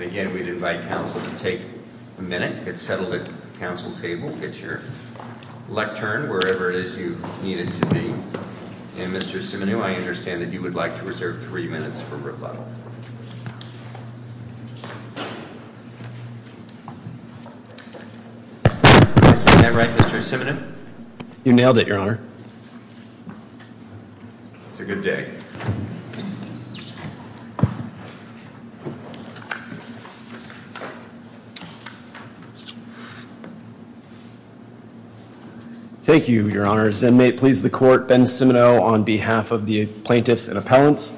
Again, we'd invite counsel to take a minute, get settled at the counsel table, get your lectern wherever it is you need it to be, and Mr. Siminew, I understand that you would like to reserve three minutes for rebuttal. Did I say that right, Mr. Siminew? You nailed it, Your Honor. It's a good day. Thank you, Your Honors. And may it please the Court, Ben Siminew on behalf of the plaintiffs and appellants.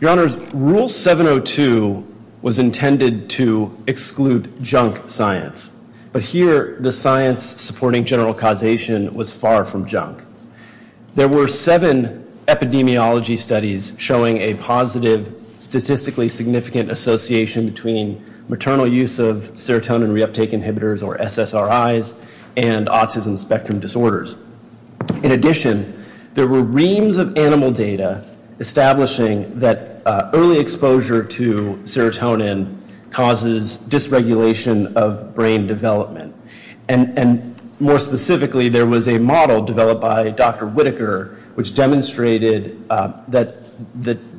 Your Honors, Rule 702 was intended to exclude junk science. But here, the science supporting general causation was far from junk. There were seven epidemiology studies showing a positive statistically significant association between maternal use of serotonin reuptake inhibitors, or SSRIs, and autism spectrum disorders. In addition, there were reams of animal data establishing that early exposure to serotonin causes dysregulation of brain development. And more specifically, there was a model developed by Dr. Whitaker which demonstrated that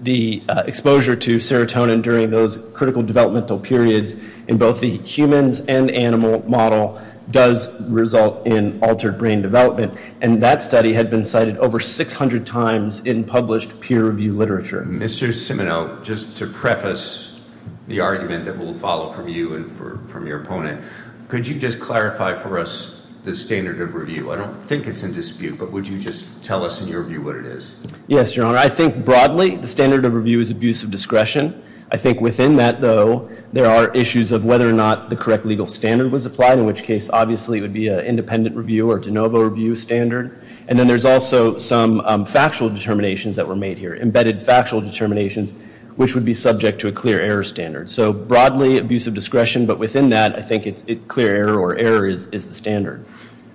the exposure to serotonin during those critical developmental periods in both the humans and animal model does result in altered brain development. And that study had been cited over 600 times in published peer-reviewed literature. Mr. Siminew, just to preface the argument that will follow from you and from your opponent, could you just clarify for us the standard of review? I don't think it's in dispute, but would you just tell us in your view what it is? Yes, Your Honor. I think broadly, the standard of review is abuse of discretion. I think within that, though, there are issues of whether or not the correct legal standard was applied, in which case, obviously, it would be an independent review or de novo review standard. And then there's also some factual determinations that were made here, embedded factual determinations, which would be subject to a clear error standard. So broadly, abuse of discretion, but within that, I think it's clear error or error is the standard.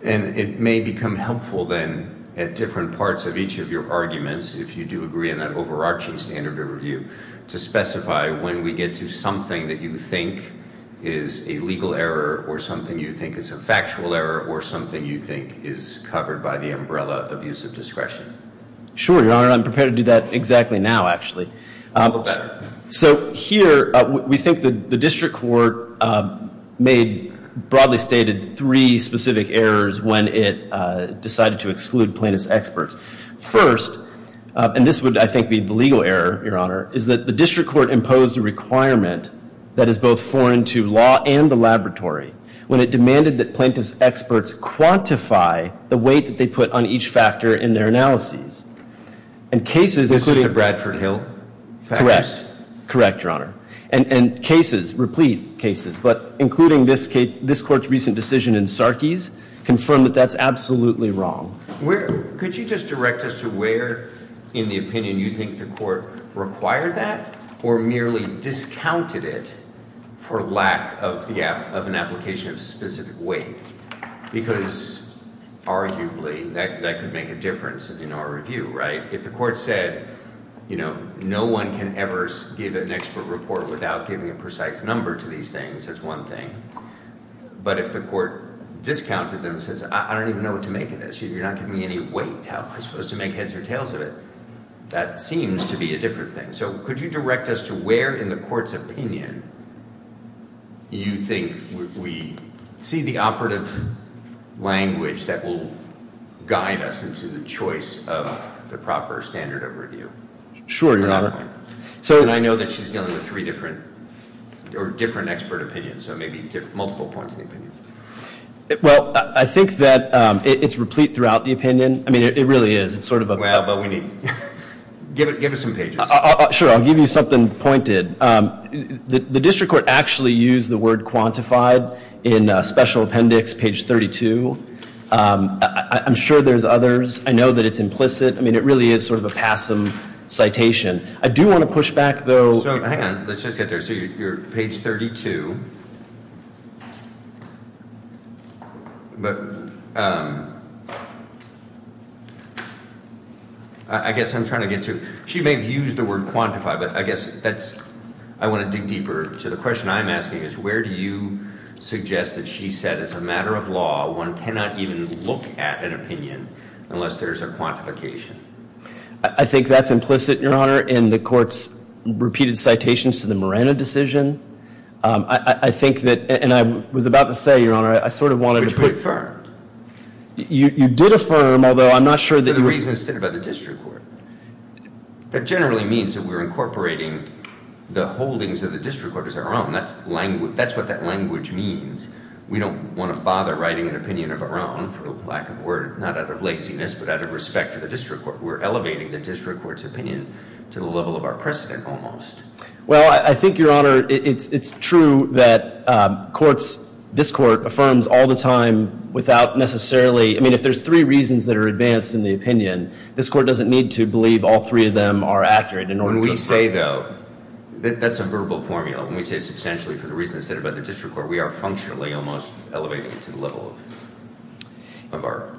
And it may become helpful then at different parts of each of your arguments, if you do agree on that overarching standard of review, to specify when we get to something that you think is a legal error or something you think is a factual error or something you think is covered by the umbrella of abuse of discretion. Sure, Your Honor. I'm prepared to do that exactly now, actually. Okay. So here, we think that the district court made broadly stated three specific errors when it decided to exclude plaintiff's experts. First, and this would, I think, be the legal error, Your Honor, is that the district court imposed a requirement that is both foreign to law and the laboratory when it demanded that plaintiff's experts quantify the weight that they put on each factor in their analyses. And cases including... Mr. Bradford Hill? Correct. Correct, Your Honor. And cases, replete cases, but including this court's recent decision in Sarkey's, confirmed that that's absolutely wrong. Could you just direct us to where in the opinion you think the court required that or merely discounted it for lack of an application of specific weight? Because arguably that could make a difference in our review, right? If the court said, you know, no one can ever give an expert report without giving a precise number to these things, that's one thing. But if the court discounted them and says, I don't even know what to make of this. You're not giving me any weight. How am I supposed to make heads or tails of it? That seems to be a different thing. So could you direct us to where in the court's opinion you think we see the operative language that will guide us into the choice of the proper standard of review? Sure, Your Honor. And I know that she's dealing with three different or different expert opinions, so maybe multiple points of opinion. Well, I think that it's replete throughout the opinion. I mean, it really is. It's sort of a... Give us some pages. Sure, I'll give you something pointed. The district court actually used the word quantified in special appendix page 32. I'm sure there's others. I know that it's implicit. I mean, it really is sort of a passive citation. I do want to push back, though. Hang on. Let's just get there. So you're at page 32. But I guess I'm trying to get to... She may have used the word quantified, but I guess that's... I want to dig deeper. So the question I'm asking is where do you suggest that she said as a matter of law one cannot even look at an opinion unless there's a quantification? I think that's implicit, Your Honor. In the court's repeated citations to the Moreno decision, I think that... And I was about to say, Your Honor, I sort of wanted to put... Which we affirmed. You did affirm, although I'm not sure that... For the reasons stated by the district court. That generally means that we're incorporating the holdings of the district court as our own. That's what that language means. We don't want to bother writing an opinion of our own, for lack of a word, not out of laziness, but out of respect for the district court. We're elevating the district court's opinion to the level of our precedent almost. Well, I think, Your Honor, it's true that courts... This court affirms all the time without necessarily... I mean, if there's three reasons that are advanced in the opinion, this court doesn't need to believe all three of them are accurate in order to affirm. When we say, though... That's a verbal formula. When we say substantially for the reasons stated by the district court, we are functionally almost elevating it to the level of our...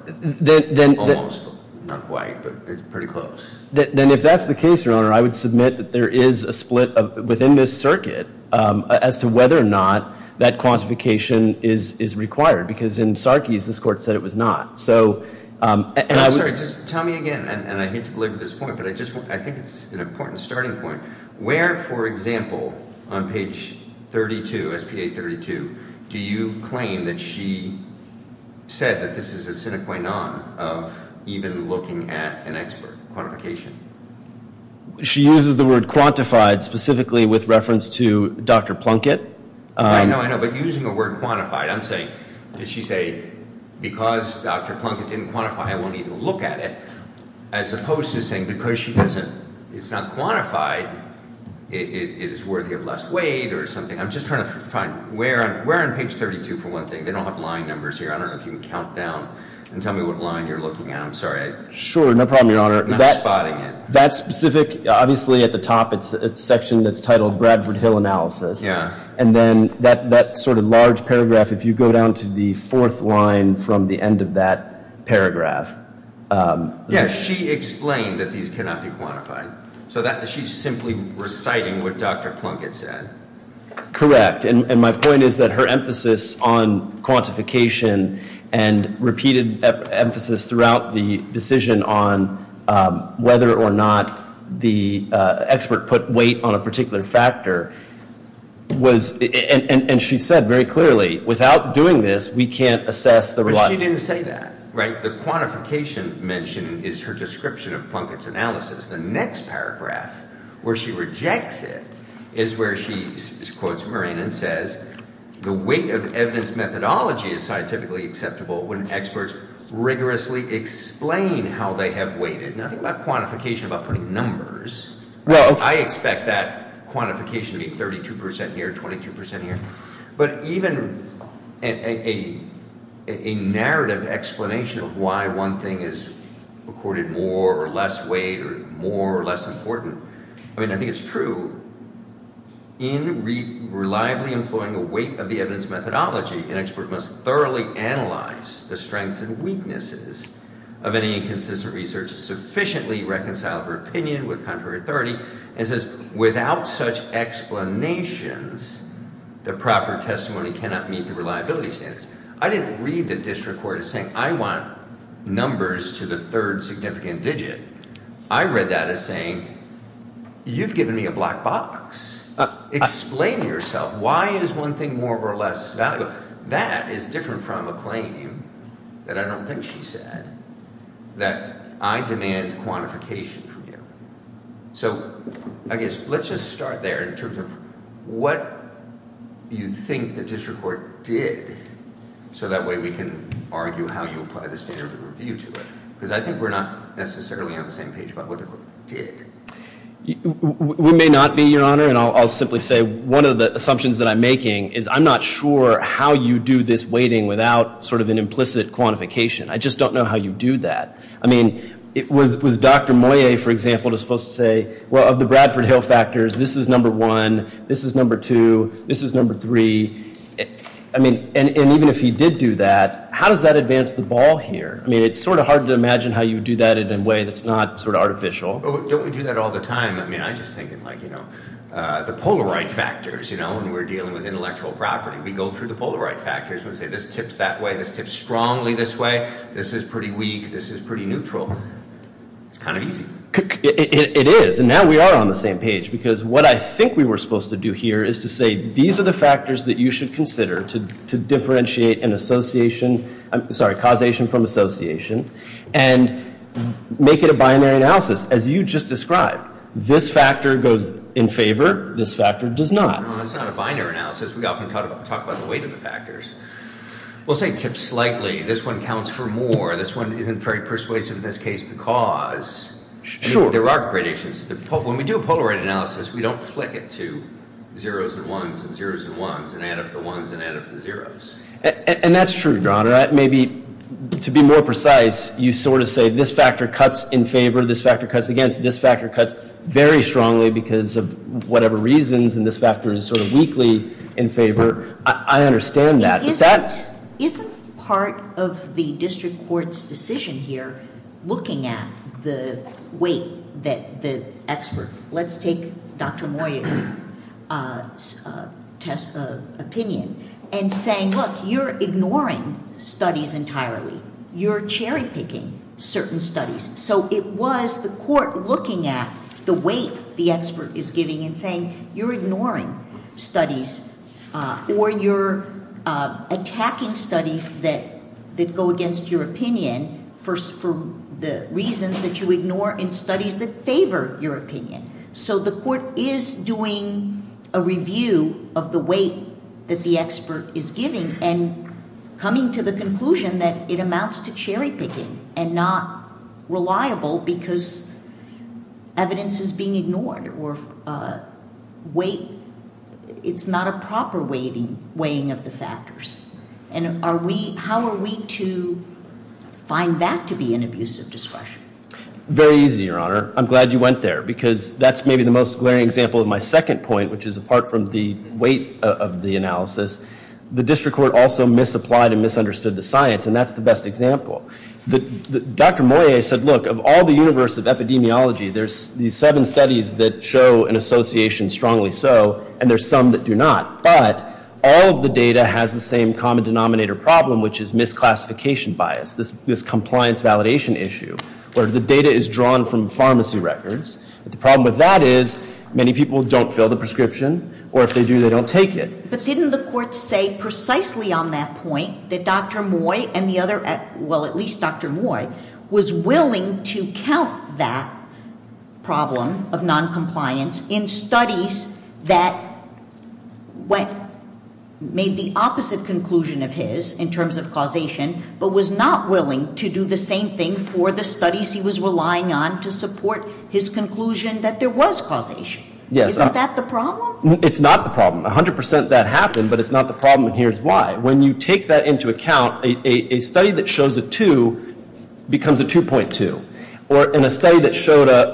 Almost, not quite, but it's pretty close. Then if that's the case, Your Honor, I would submit that there is a split within this circuit as to whether or not that quantification is required, because in Sarkey's, this court said it was not. I'm sorry, just tell me again, and I hate to belabor this point, but I think it's an important starting point. Where, for example, on page 32, S.P.A. 32, do you claim that she said that this is a sine qua non of even looking at an expert quantification? She uses the word quantified specifically with reference to Dr. Plunkett. I know, I know, but using the word quantified, I'm saying... Did she say, because Dr. Plunkett didn't quantify, I won't even look at it, as opposed to saying, because she doesn't, it's not quantified, it is worthy of less weight or something. I'm just trying to find, where on page 32, for one thing, they don't have line numbers here. I don't know if you can count down and tell me what line you're looking at. I'm sorry. Sure, no problem, Your Honor. I'm not spotting it. That specific, obviously at the top, it's a section that's titled Bradford Hill Analysis. Yeah. And then that sort of large paragraph, if you go down to the fourth line from the end of that paragraph... Yeah, she explained that these cannot be quantified. So she's simply reciting what Dr. Plunkett said. Correct. And my point is that her emphasis on quantification and repeated emphasis throughout the decision on whether or not the expert put weight on a particular factor was... And she said very clearly, without doing this, we can't assess the reliability. But she didn't say that. Right? The quantification mentioned is her description of Plunkett's analysis. The next paragraph, where she rejects it, is where she quotes Murrain and says, the weight of evidence methodology is scientifically acceptable when experts rigorously explain how they have weighted. Nothing about quantification, about putting numbers. Well... I expect that quantification to be 32% here, 22% here. But even a narrative explanation of why one thing is recorded more or less weight or more or less important, I mean, I think it's true, in reliably employing a weight of the evidence methodology, an expert must thoroughly analyze the strengths and weaknesses of any inconsistent research sufficiently reconcile her opinion with contrary authority and says, without such explanations, the proper testimony cannot meet the reliability standards. I didn't read the district court as saying, I want numbers to the third significant digit. I read that as saying, you've given me a black box. Explain to yourself, why is one thing more or less valuable? So that is different from a claim that I don't think she said, that I demand quantification from you. So I guess let's just start there in terms of what you think the district court did, so that way we can argue how you apply the standard of review to it, because I think we're not necessarily on the same page about what the court did. We may not be, Your Honor, and I'll simply say one of the assumptions that I'm making is I'm not sure how you do this weighting without sort of an implicit quantification. I just don't know how you do that. I mean, was Dr. Moyet, for example, supposed to say, well, of the Bradford Hill factors, this is number one, this is number two, this is number three. I mean, and even if he did do that, how does that advance the ball here? I mean, it's sort of hard to imagine how you would do that in a way that's not sort of artificial. Don't we do that all the time? I mean, I'm just thinking, like, you know, the Polaroid factors, you know, when we're dealing with intellectual property. We go through the Polaroid factors and say this tips that way, this tips strongly this way, this is pretty weak, this is pretty neutral. It's kind of easy. It is, and now we are on the same page, because what I think we were supposed to do here is to say these are the factors that you should consider to differentiate causation from association and make it a binary analysis, as you just described. This factor goes in favor, this factor does not. No, that's not a binary analysis. We often talk about the weight of the factors. We'll say tips slightly. This one counts for more. This one isn't very persuasive in this case because there are gradations. When we do a Polaroid analysis, we don't flick it to zeros and ones and zeros and ones and add up the ones and add up the zeros. And that's true, John. Maybe to be more precise, you sort of say this factor cuts in favor, this factor cuts against, this factor cuts very strongly because of whatever reasons, and this factor is sort of weakly in favor. I understand that. Isn't part of the district court's decision here looking at the weight that the expert, let's take Dr. Moyer's opinion, and saying, look, you're ignoring studies entirely. You're cherry picking certain studies. So it was the court looking at the weight the expert is giving and saying, you're ignoring studies or you're attacking studies that go against your opinion for the reasons that you ignore and studies that favor your opinion. So the court is doing a review of the weight that the expert is giving and coming to the conclusion that it amounts to cherry picking and not reliable because evidence is being ignored. It's not a proper weighing of the factors. And how are we to find that to be an abuse of discretion? Very easy, Your Honor. I'm glad you went there because that's maybe the most glaring example of my second point, which is apart from the weight of the analysis, the district court also misapplied and misunderstood the science. And that's the best example. Dr. Moyer said, look, of all the universe of epidemiology, there's these seven studies that show an association strongly so, and there's some that do not. But all of the data has the same common denominator problem, which is misclassification bias, this compliance validation issue where the data is drawn from pharmacy records. The problem with that is many people don't fill the prescription, or if they do, they don't take it. But didn't the court say precisely on that point that Dr. Moy and the other, well, at least Dr. Moy, was willing to count that problem of noncompliance in studies that went, made the opposite conclusion of his in terms of causation, but was not willing to do the same thing for the studies he was relying on to support his conclusion that there was causation? Yes. It's not the problem. A hundred percent of that happened, but it's not the problem, and here's why. When you take that into account, a study that shows a two becomes a 2.2. Or in a study that showed a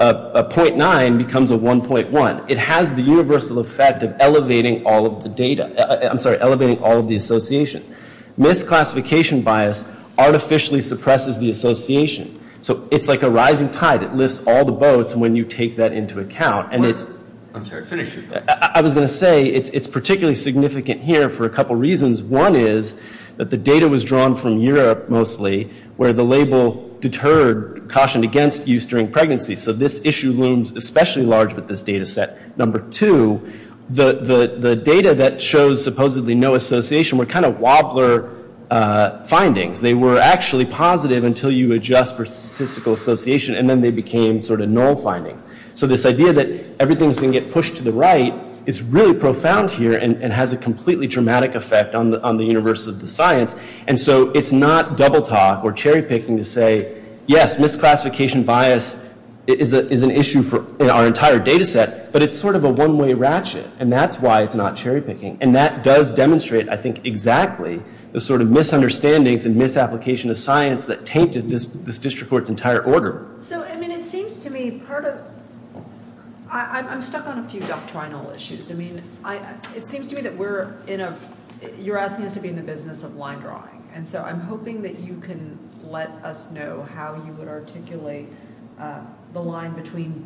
.9 becomes a 1.1. It has the universal effect of elevating all of the data. I'm sorry, elevating all of the associations. Misclassification bias artificially suppresses the association. So it's like a rising tide. It lifts all the boats when you take that into account. I'm sorry, finish. I was going to say it's particularly significant here for a couple reasons. One is that the data was drawn from Europe, mostly, where the label deterred, cautioned against use during pregnancy. So this issue looms especially large with this data set. Number two, the data that shows supposedly no association were kind of wobbler findings. They were actually positive until you adjust for statistical association, and then they became sort of null findings. So this idea that everything is going to get pushed to the right is really profound here and has a completely dramatic effect on the universe of the science. And so it's not double talk or cherry picking to say, yes, misclassification bias is an issue in our entire data set, but it's sort of a one-way ratchet, and that's why it's not cherry picking. And that does demonstrate, I think, exactly the sort of misunderstandings and misapplication of science that tainted this district court's entire order. So, I mean, it seems to me part of – I'm stuck on a few doctrinal issues. I mean, it seems to me that we're in a – you're asking us to be in the business of line drawing, and so I'm hoping that you can let us know how you would articulate the line between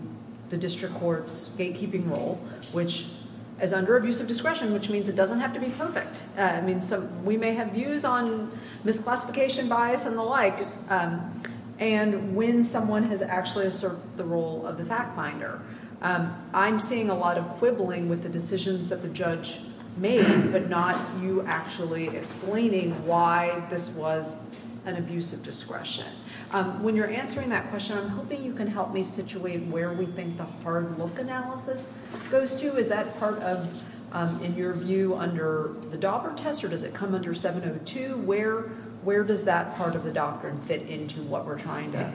the district court's gatekeeping role, which is under abusive discretion, which means it doesn't have to be perfect. I mean, we may have views on misclassification bias and the like, and when someone has actually asserted the role of the fact finder. I'm seeing a lot of quibbling with the decisions that the judge made, but not you actually explaining why this was an abusive discretion. When you're answering that question, I'm hoping you can help me situate where we think the hard look analysis goes to. Is that part of, in your view, under the Dauber test, or does it come under 702? Where does that part of the doctrine fit into what we're trying to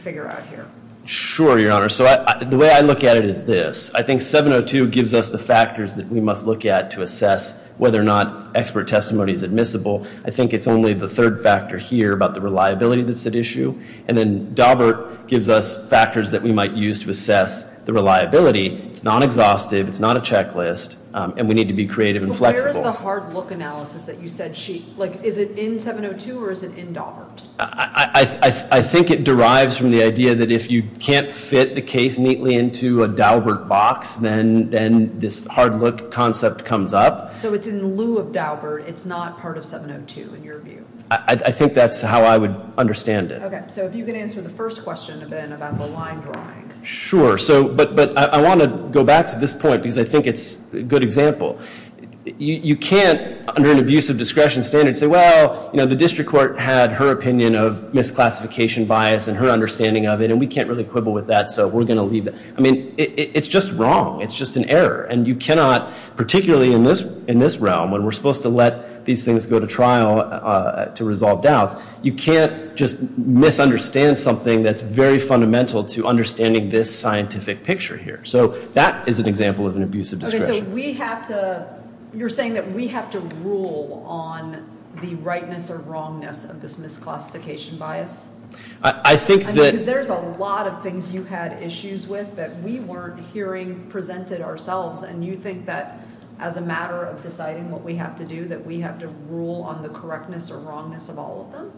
figure out here? Sure, Your Honor. So the way I look at it is this. I think 702 gives us the factors that we must look at to assess whether or not expert testimony is admissible. I think it's only the third factor here about the reliability that's at issue, and then Daubert gives us factors that we might use to assess the reliability. It's not exhaustive. It's not a checklist, and we need to be creative and flexible. Where is the hard look analysis that you said she, like, is it in 702 or is it in Daubert? I think it derives from the idea that if you can't fit the case neatly into a Daubert box, then this hard look concept comes up. So it's in lieu of Daubert. It's not part of 702, in your view. I think that's how I would understand it. Okay, so if you could answer the first question, then, about the line drawing. Sure. But I want to go back to this point because I think it's a good example. You can't, under an abuse of discretion standard, say, well, you know, the district court had her opinion of misclassification bias and her understanding of it, and we can't really quibble with that, so we're going to leave that. I mean, it's just wrong. It's just an error, and you cannot, particularly in this realm, when we're supposed to let these things go to trial to resolve doubts, you can't just misunderstand something that's very fundamental to understanding this scientific picture here. So that is an example of an abuse of discretion. Okay, so we have to – you're saying that we have to rule on the rightness or wrongness of this misclassification bias? I think that – I mean, because there's a lot of things you had issues with that we weren't hearing presented ourselves, and you think that as a matter of deciding what we have to do, that we have to rule on the correctness or wrongness of all of them?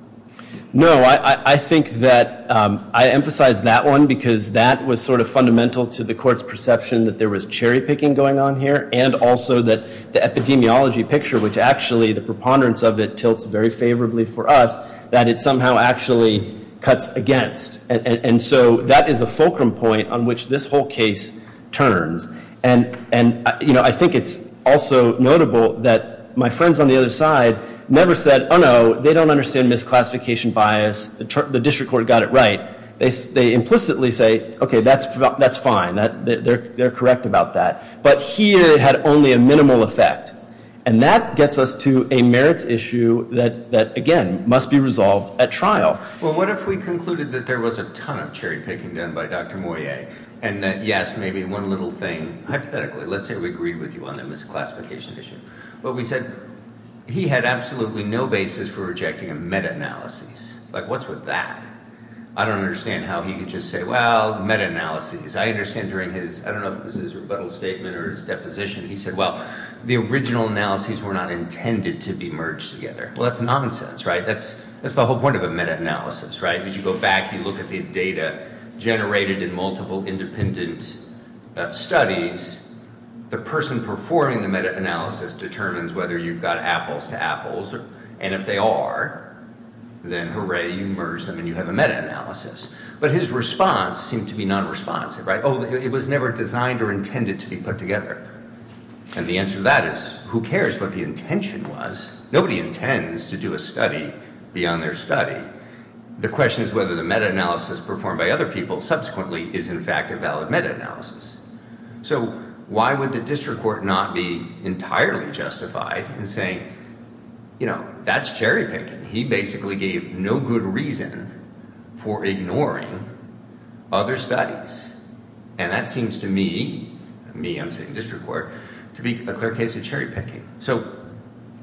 No, I think that – I emphasize that one because that was sort of fundamental to the court's perception that there was cherry-picking going on here and also that the epidemiology picture, which actually the preponderance of it tilts very favorably for us, that it somehow actually cuts against. And so that is a fulcrum point on which this whole case turns. And I think it's also notable that my friends on the other side never said, oh, no, they don't understand misclassification bias. The district court got it right. They implicitly say, okay, that's fine. They're correct about that. But here it had only a minimal effect. And that gets us to a merits issue that, again, must be resolved at trial. Well, what if we concluded that there was a ton of cherry-picking done by Dr. Moyet and that, yes, maybe one little thing, hypothetically, let's say we agree with you on the misclassification issue, but we said he had absolutely no basis for rejecting a meta-analysis. Like, what's with that? I don't understand how he could just say, well, meta-analyses. I understand during his – I don't know if it was his rebuttal statement or his deposition. He said, well, the original analyses were not intended to be merged together. Well, that's nonsense, right? That's the whole point of a meta-analysis, right? As you go back, you look at the data generated in multiple independent studies. The person performing the meta-analysis determines whether you've got apples to apples. And if they are, then hooray, you merge them and you have a meta-analysis. But his response seemed to be non-responsive, right? Oh, it was never designed or intended to be put together. And the answer to that is, who cares what the intention was? Nobody intends to do a study beyond their study. The question is whether the meta-analysis performed by other people subsequently is in fact a valid meta-analysis. So why would the district court not be entirely justified in saying, you know, that's cherry-picking? He basically gave no good reason for ignoring other studies. And that seems to me – me, I'm saying district court – to be a clear case of cherry-picking. So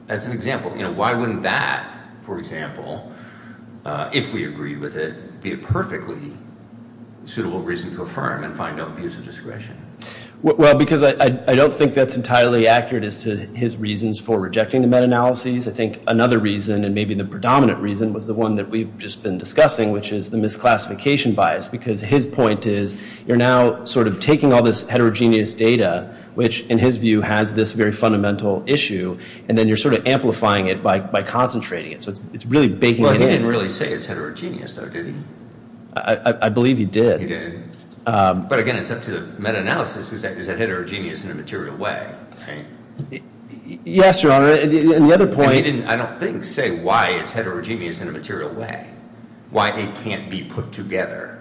as an example, you know, why wouldn't that, for example, if we agreed with it, be a perfectly suitable reason to affirm and find no abuse of discretion? Well, because I don't think that's entirely accurate as to his reasons for rejecting the meta-analyses. I think another reason, and maybe the predominant reason, was the one that we've just been discussing, which is the misclassification bias. Because his point is, you're now sort of taking all this heterogeneous data, which, in his view, has this very fundamental issue, and then you're sort of amplifying it by concentrating it. So it's really baking it in. Well, he didn't really say it's heterogeneous, though, did he? I believe he did. He did. But again, it's up to the meta-analysis. Is that heterogeneous in a material way? Yes, Your Honor. And the other point – And he didn't, I don't think, say why it's heterogeneous in a material way. Why it can't be put together.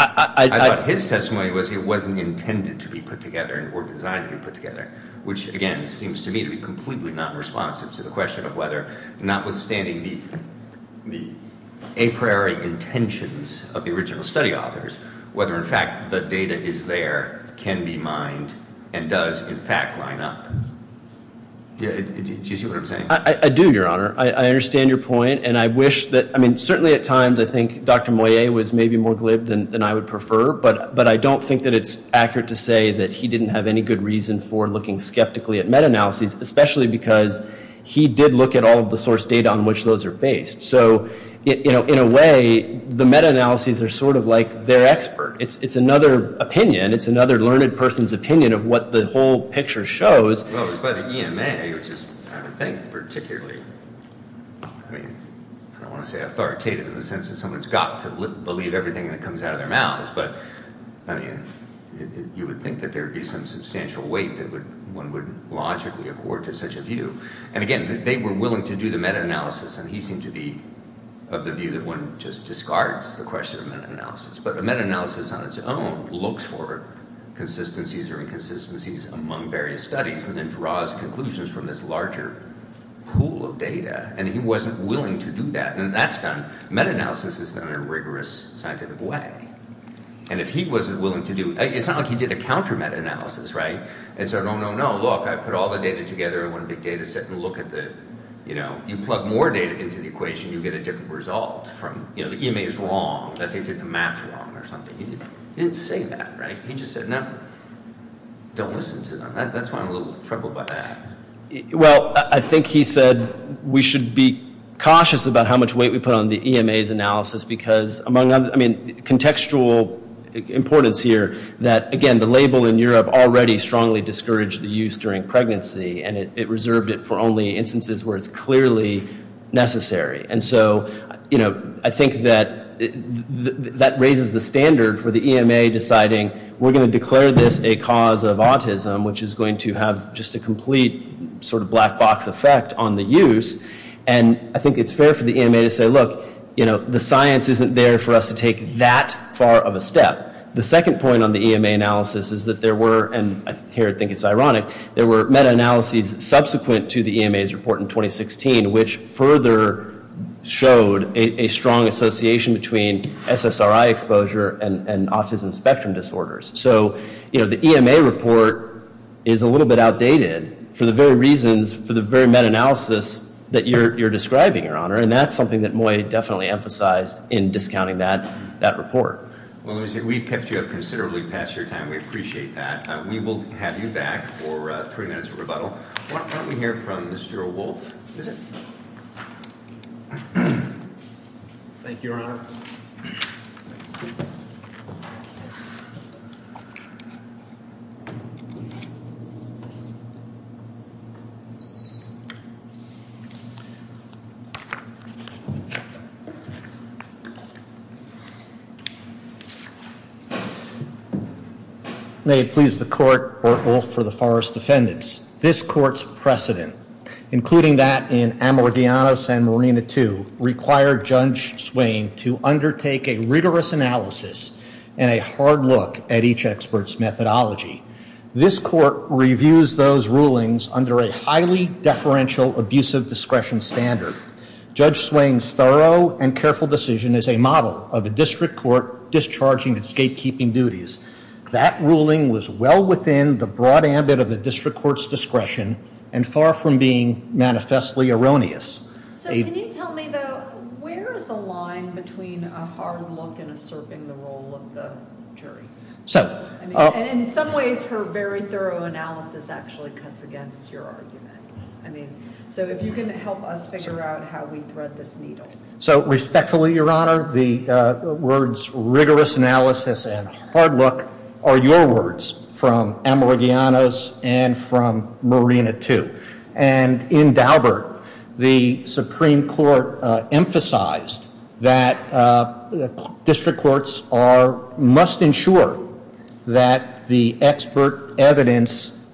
I thought his testimony was it wasn't intended to be put together or designed to be put together, which, again, seems to me to be completely not responsive to the question of whether, notwithstanding the a priori intentions of the original study authors, whether, in fact, the data is there, can be mined, and does, in fact, line up. Do you see what I'm saying? I do, Your Honor. I understand your point. Certainly at times I think Dr. Moyet was maybe more glib than I would prefer, but I don't think that it's accurate to say that he didn't have any good reason for looking skeptically at meta-analyses, especially because he did look at all of the source data on which those are based. So, in a way, the meta-analyses are sort of like their expert. It's another opinion. It's another learned person's opinion of what the whole picture shows. Well, it's by the EMA, which is, I would think, particularly, I mean, I don't want to say authoritative in the sense that someone's got to believe everything that comes out of their mouths, but, I mean, you would think that there would be some substantial weight that one would logically accord to such a view. And, again, they were willing to do the meta-analysis, and he seemed to be of the view that one just discards the question of meta-analysis. But a meta-analysis on its own looks for consistencies or inconsistencies among various studies and then draws conclusions from this larger pool of data. And he wasn't willing to do that. And that's done. Meta-analysis is done in a rigorous scientific way. And if he wasn't willing to do it, it's not like he did a counter-meta-analysis, right? And said, oh, no, no, look, I put all the data together in one big data set and look at the, you know, you plug more data into the equation, you get a different result from, you know, the EMA is wrong, that they did the math wrong or something. He didn't say that, right? He just said, no, don't listen to them. That's why I'm a little troubled by that. Well, I think he said we should be cautious about how much weight we put on the EMA's analysis because, I mean, contextual importance here that, again, the label in Europe already strongly discouraged the use during pregnancy, and it reserved it for only instances where it's clearly necessary. And so, you know, I think that that raises the standard for the EMA deciding we're going to declare this a cause of autism, which is going to have just a complete sort of black box effect on the use. And I think it's fair for the EMA to say, look, you know, the science isn't there for us to take that far of a step. The second point on the EMA analysis is that there were, and here I think it's ironic, there were meta-analyses subsequent to the EMA's report in 2016, which further showed a strong association between SSRI exposure and autism spectrum disorders. So, you know, the EMA report is a little bit outdated for the very reasons, for the very meta-analysis that you're describing, Your Honor, and that's something that Moy definitely emphasized in discounting that report. Well, let me say, we've kept you up considerably past your time. We appreciate that. We will have you back for three minutes of rebuttal. Why don't we hear from Mr. Wolfe? Thank you, Your Honor. May it please the Court, Orr Wolfe for the Forest Defendants. This Court's precedent, including that in Ammordiano-San Marino II, required Judge Swain to undertake a rigorous analysis and a hard look at each expert's methodology. This Court reviews those rulings under a highly deferential abusive discretion standard. Judge Swain's thorough and careful decision is a model of a district court discharging its gatekeeping duties. That ruling was well within the broad ambit of a district court's discretion and far from being manifestly erroneous. So can you tell me, though, where is the line between a hard look and asserting the role of the jury? And in some ways, her very thorough analysis actually cuts against your argument. I mean, so if you can help us figure out how we thread this needle. So respectfully, Your Honor, the words rigorous analysis and hard look are your words from Ammordiano's and from Marino II. And in Daubert, the Supreme Court emphasized that district courts must ensure that the expert evidence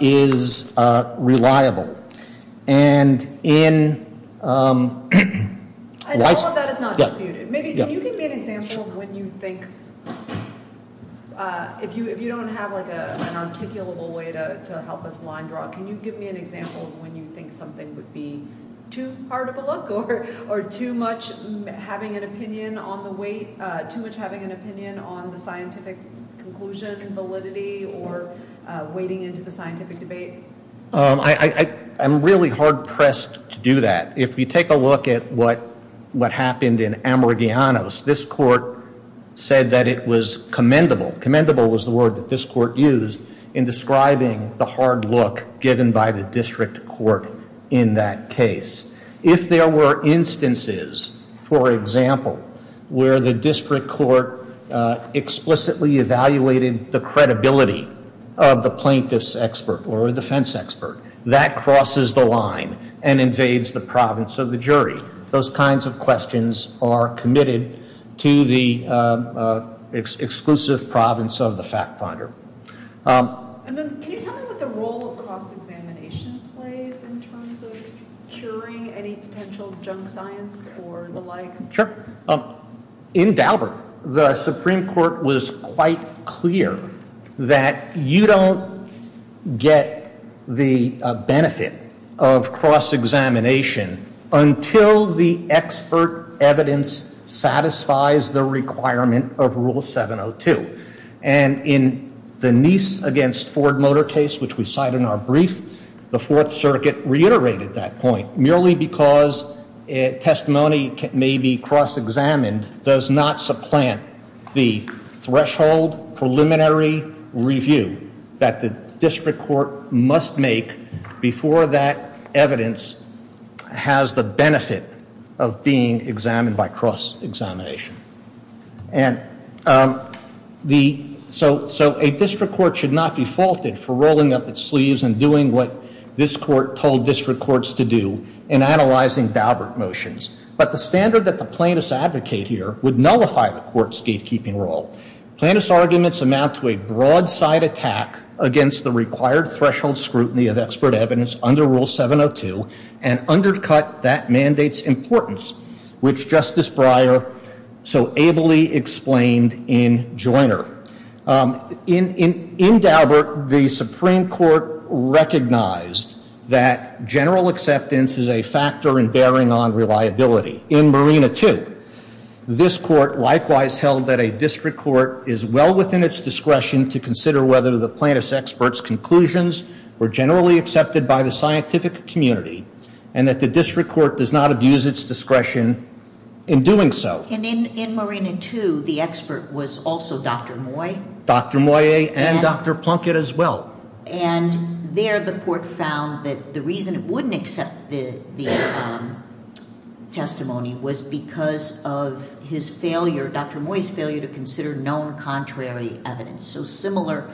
is reliable. And in- And all of that is not disputed. Can you give me an example of when you think- if you don't have an articulable way to help us line draw, can you give me an example of when you think something would be too hard of a look or too much having an opinion on the scientific conclusion validity or wading into the scientific debate? I'm really hard pressed to do that. If you take a look at what happened in Ammordiano's, this court said that it was commendable. Commendable was the word that this court used in describing the hard look given by the district court in that case. If there were instances, for example, where the district court explicitly evaluated the credibility of the plaintiff's expert or defense expert, that crosses the line and invades the province of the jury. Those kinds of questions are committed to the exclusive province of the fact finder. And then can you tell me what the role of cross-examination plays in terms of curing any potential junk science or the like? Sure. In Daubert, the Supreme Court was quite clear that you don't get the benefit of cross-examination until the expert evidence satisfies the requirement of Rule 702. And in the Nice against Ford Motor case, which we cite in our brief, the Fourth Circuit reiterated that point merely because testimony may be cross-examined, does not supplant the threshold preliminary review that the district court must make before that evidence has the benefit of being examined by cross-examination. And so a district court should not be faulted for rolling up its sleeves and doing what this court told district courts to do in analyzing Daubert motions. But the standard that the plaintiffs advocate here would nullify the court's gatekeeping role. Plaintiffs' arguments amount to a broadside attack against the required threshold scrutiny of expert evidence under Rule 702 and undercut that mandate's importance, which Justice Breyer so ably explained in Joiner. In Daubert, the Supreme Court recognized that general acceptance is a factor in bearing on reliability. In Marina II, this court likewise held that a district court is well within its discretion to consider whether the plaintiff's expert's conclusions were generally accepted by the scientific community and that the district court does not abuse its discretion in doing so. And in Marina II, the expert was also Dr. Moye. Dr. Moye and Dr. Plunkett as well. And there the court found that the reason it wouldn't accept the testimony was because of his failure, Dr. Moye's failure to consider known contrary evidence. So similar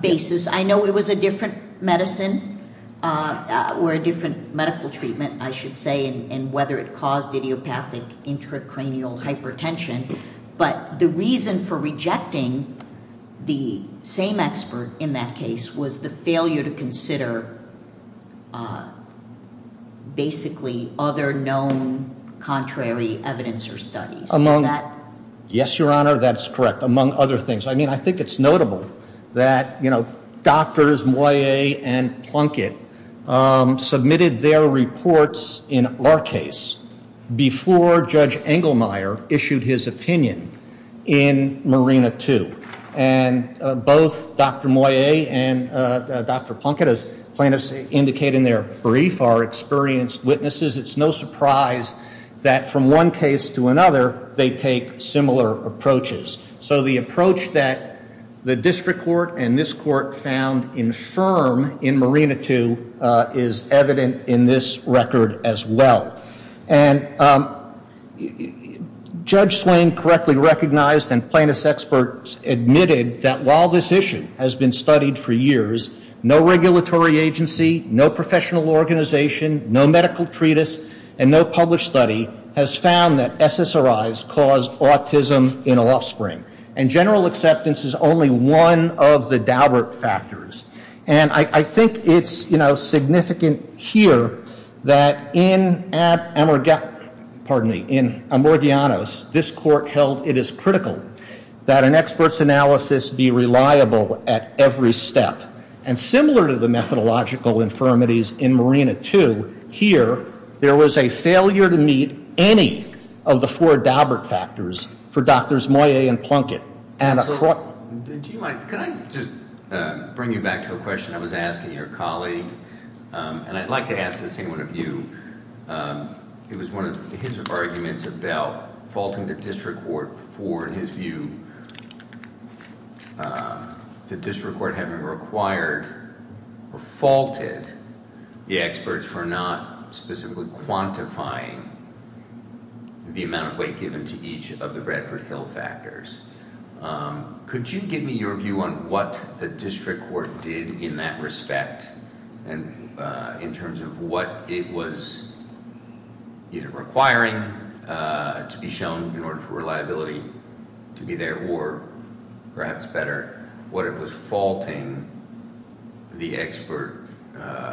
basis. I know it was a different medicine or a different medical treatment, I should say, and whether it caused idiopathic intracranial hypertension. But the reason for rejecting the same expert in that case was the failure to consider basically other known contrary evidence or studies. Yes, Your Honor, that's correct. Among other things. I mean, I think it's notable that, you know, Drs. Moye and Plunkett submitted their reports in our case before Judge Engelmeyer issued his opinion in Marina II. And both Dr. Moye and Dr. Plunkett, as plaintiffs indicate in their brief, are experienced witnesses. It's no surprise that from one case to another, they take similar approaches. So the approach that the district court and this court found infirm in Marina II is evident in this record as well. And Judge Swain correctly recognized and plaintiff's experts admitted that while this issue has been studied for years, no regulatory agency, no professional organization, no medical treatise, and no published study has found that SSRIs cause autism in offspring. And general acceptance is only one of the doubert factors. And I think it's, you know, significant here that in Amorgianos, this court held it is critical that an expert's analysis be reliable at every step. And similar to the methodological infirmities in Marina II here, there was a failure to meet any of the four doubert factors for Drs. Moye and Plunkett. Can I just bring you back to a question I was asking your colleague? And I'd like to ask this in one of you. It was one of his arguments about faulting the district court for, in his view, the district court having required or faulted the experts for not specifically quantifying the amount of weight given to each of the Bradford Hill factors. Could you give me your view on what the district court did in that respect? And in terms of what it was requiring to be shown in order for reliability to be there, or perhaps better, what it was faulting the expert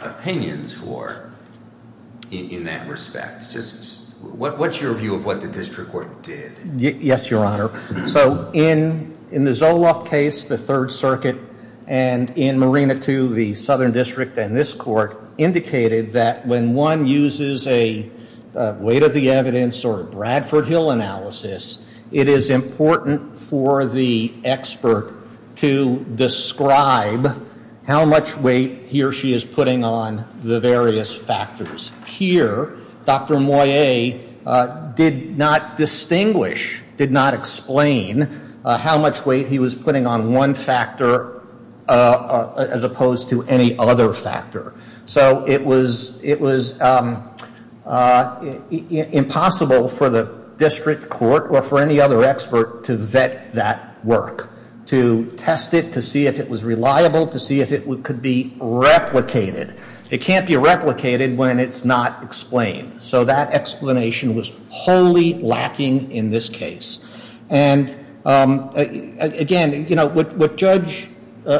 opinions for in that respect? Just what's your view of what the district court did? Yes, Your Honor. So in the Zoloft case, the Third Circuit, and in Marina II, the Southern District, and this court indicated that when one uses a weight of the evidence or a Bradford Hill analysis, it is important for the expert to describe how much weight he or she is putting on the various factors. Here, Dr. Moyet did not distinguish, did not explain how much weight he was putting on one factor as opposed to any other factor. So it was impossible for the district court or for any other expert to vet that work, to test it, to see if it was reliable, to see if it could be replicated. It can't be replicated when it's not explained. So that explanation was wholly lacking in this case. And again, what Judge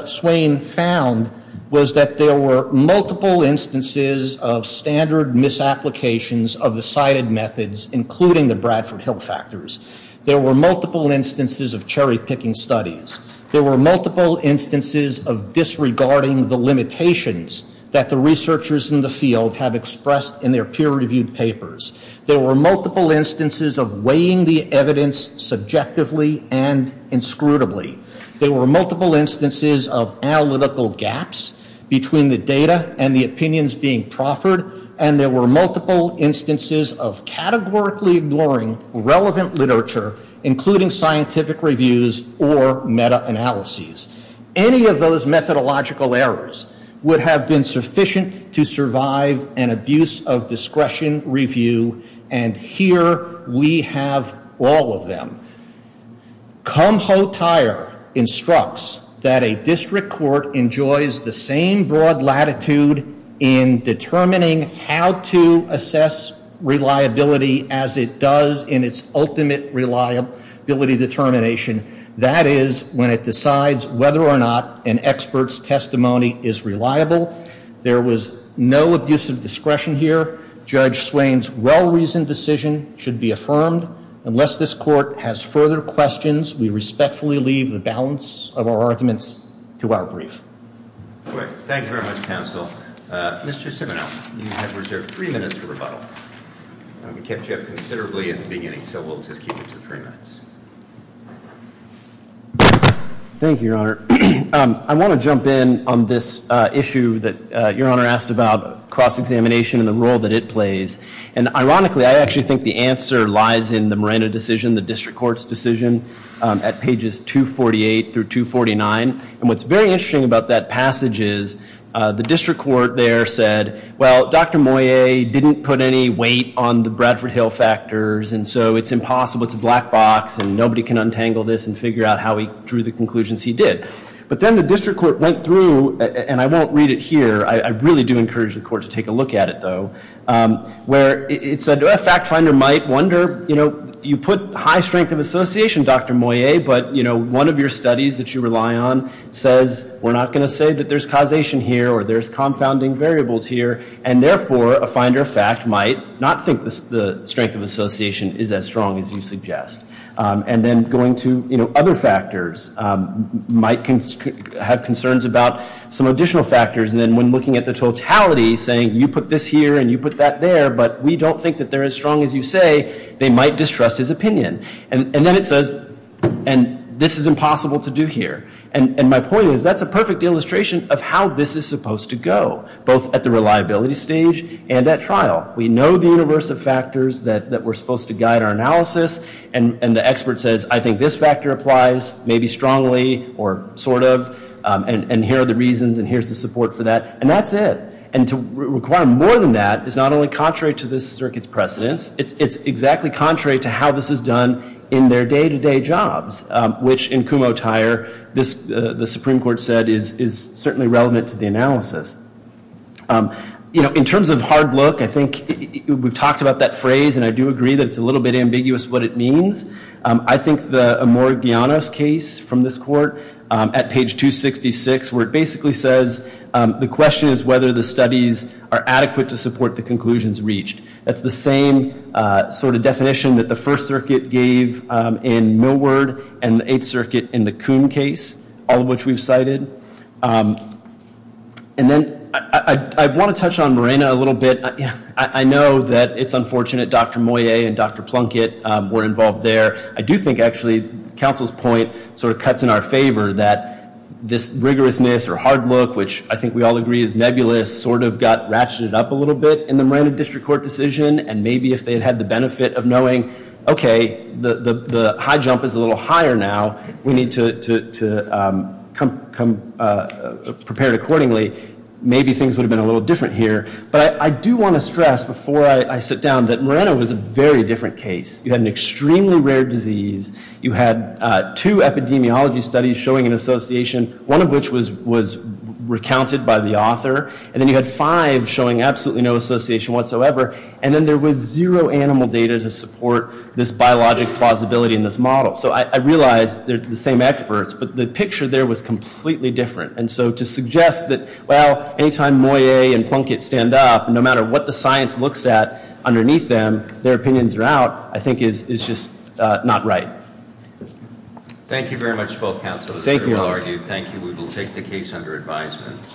Swain found was that there were multiple instances of standard misapplications of the cited methods, including the Bradford Hill factors. There were multiple instances of cherry-picking studies. There were multiple instances of disregarding the limitations that the researchers in the field have expressed in their peer-reviewed papers. There were multiple instances of weighing the evidence subjectively and inscrutably. There were multiple instances of analytical gaps between the data and the opinions being proffered. And there were multiple instances of categorically ignoring relevant literature, including scientific reviews or meta-analyses. Any of those methodological errors would have been sufficient to survive an abuse-of-discretion review, and here we have all of them. Cum Ho Tire instructs that a district court enjoys the same broad latitude in determining how to assess reliability as it does in its ultimate reliability determination. That is, when it decides whether or not an expert's testimony is reliable. There was no abuse-of-discretion here. Judge Swain's well-reasoned decision should be affirmed. Unless this court has further questions, we respectfully leave the balance of our arguments to our brief. Thank you very much, counsel. Mr. Siminoff, you have reserved three minutes for rebuttal. We kept you up considerably in the beginning, so we'll just keep it to three minutes. Thank you, Your Honor. I want to jump in on this issue that Your Honor asked about, cross-examination and the role that it plays. And ironically, I actually think the answer lies in the Miranda decision, the district court's decision, at pages 248 through 249. And what's very interesting about that passage is the district court there said, well, Dr. Moyet didn't put any weight on the Bradford Hill factors, and so it's impossible, it's a black box, and nobody can untangle this and figure out how he drew the conclusions he did. But then the district court went through, and I won't read it here, I really do encourage the court to take a look at it, though, where it said, a fact finder might wonder, you know, you put high strength of association, Dr. Moyet, but, you know, one of your studies that you rely on says we're not going to say that there's causation here or there's confounding variables here, and therefore, a finder of fact might not think the strength of association is as strong as you suggest. And then going to, you know, other factors might have concerns about some additional factors, and then when looking at the totality, saying you put this here and you put that there, but we don't think that they're as strong as you say, they might distrust his opinion. And then it says, and this is impossible to do here. And my point is, that's a perfect illustration of how this is supposed to go, both at the reliability stage and at trial. We know the universe of factors that we're supposed to guide our analysis, and the expert says, I think this factor applies, maybe strongly or sort of, and here are the reasons and here's the support for that, and that's it. And to require more than that is not only contrary to this circuit's precedence, it's exactly contrary to how this is done in their day-to-day jobs, which in Kumho-Tyre, the Supreme Court said is certainly relevant to the analysis. You know, in terms of hard look, I think we've talked about that phrase, and I do agree that it's a little bit ambiguous what it means. I think the Amor-Guianos case from this court, at page 266, where it basically says, the question is whether the studies are adequate to support the conclusions reached. That's the same sort of definition that the First Circuit gave in Millward and the Eighth Circuit in the Kuhn case, all of which we've cited. And then I want to touch on Morena a little bit. I know that it's unfortunate Dr. Moyet and Dr. Plunkett were involved there. I do think, actually, counsel's point sort of cuts in our favor that this rigorousness or hard look, which I think we all agree is nebulous, sort of got ratcheted up a little bit in the Morena District Court decision, and maybe if they'd had the benefit of knowing, okay, the high jump is a little higher now, we need to prepare it accordingly, maybe things would have been a little different here. But I do want to stress before I sit down that Morena was a very different case. You had an extremely rare disease. You had two epidemiology studies showing an association, one of which was recounted by the author, and then you had five showing absolutely no association whatsoever, and then there was zero animal data to support this biologic plausibility in this model. So I realize they're the same experts, but the picture there was completely different. And so to suggest that, well, any time Moyet and Plunkett stand up, no matter what the science looks at underneath them, their opinions are out, I think is just not right. Thank you very much to both counsels. Thank you. It was very well argued. Thank you. We will take the case under advisement.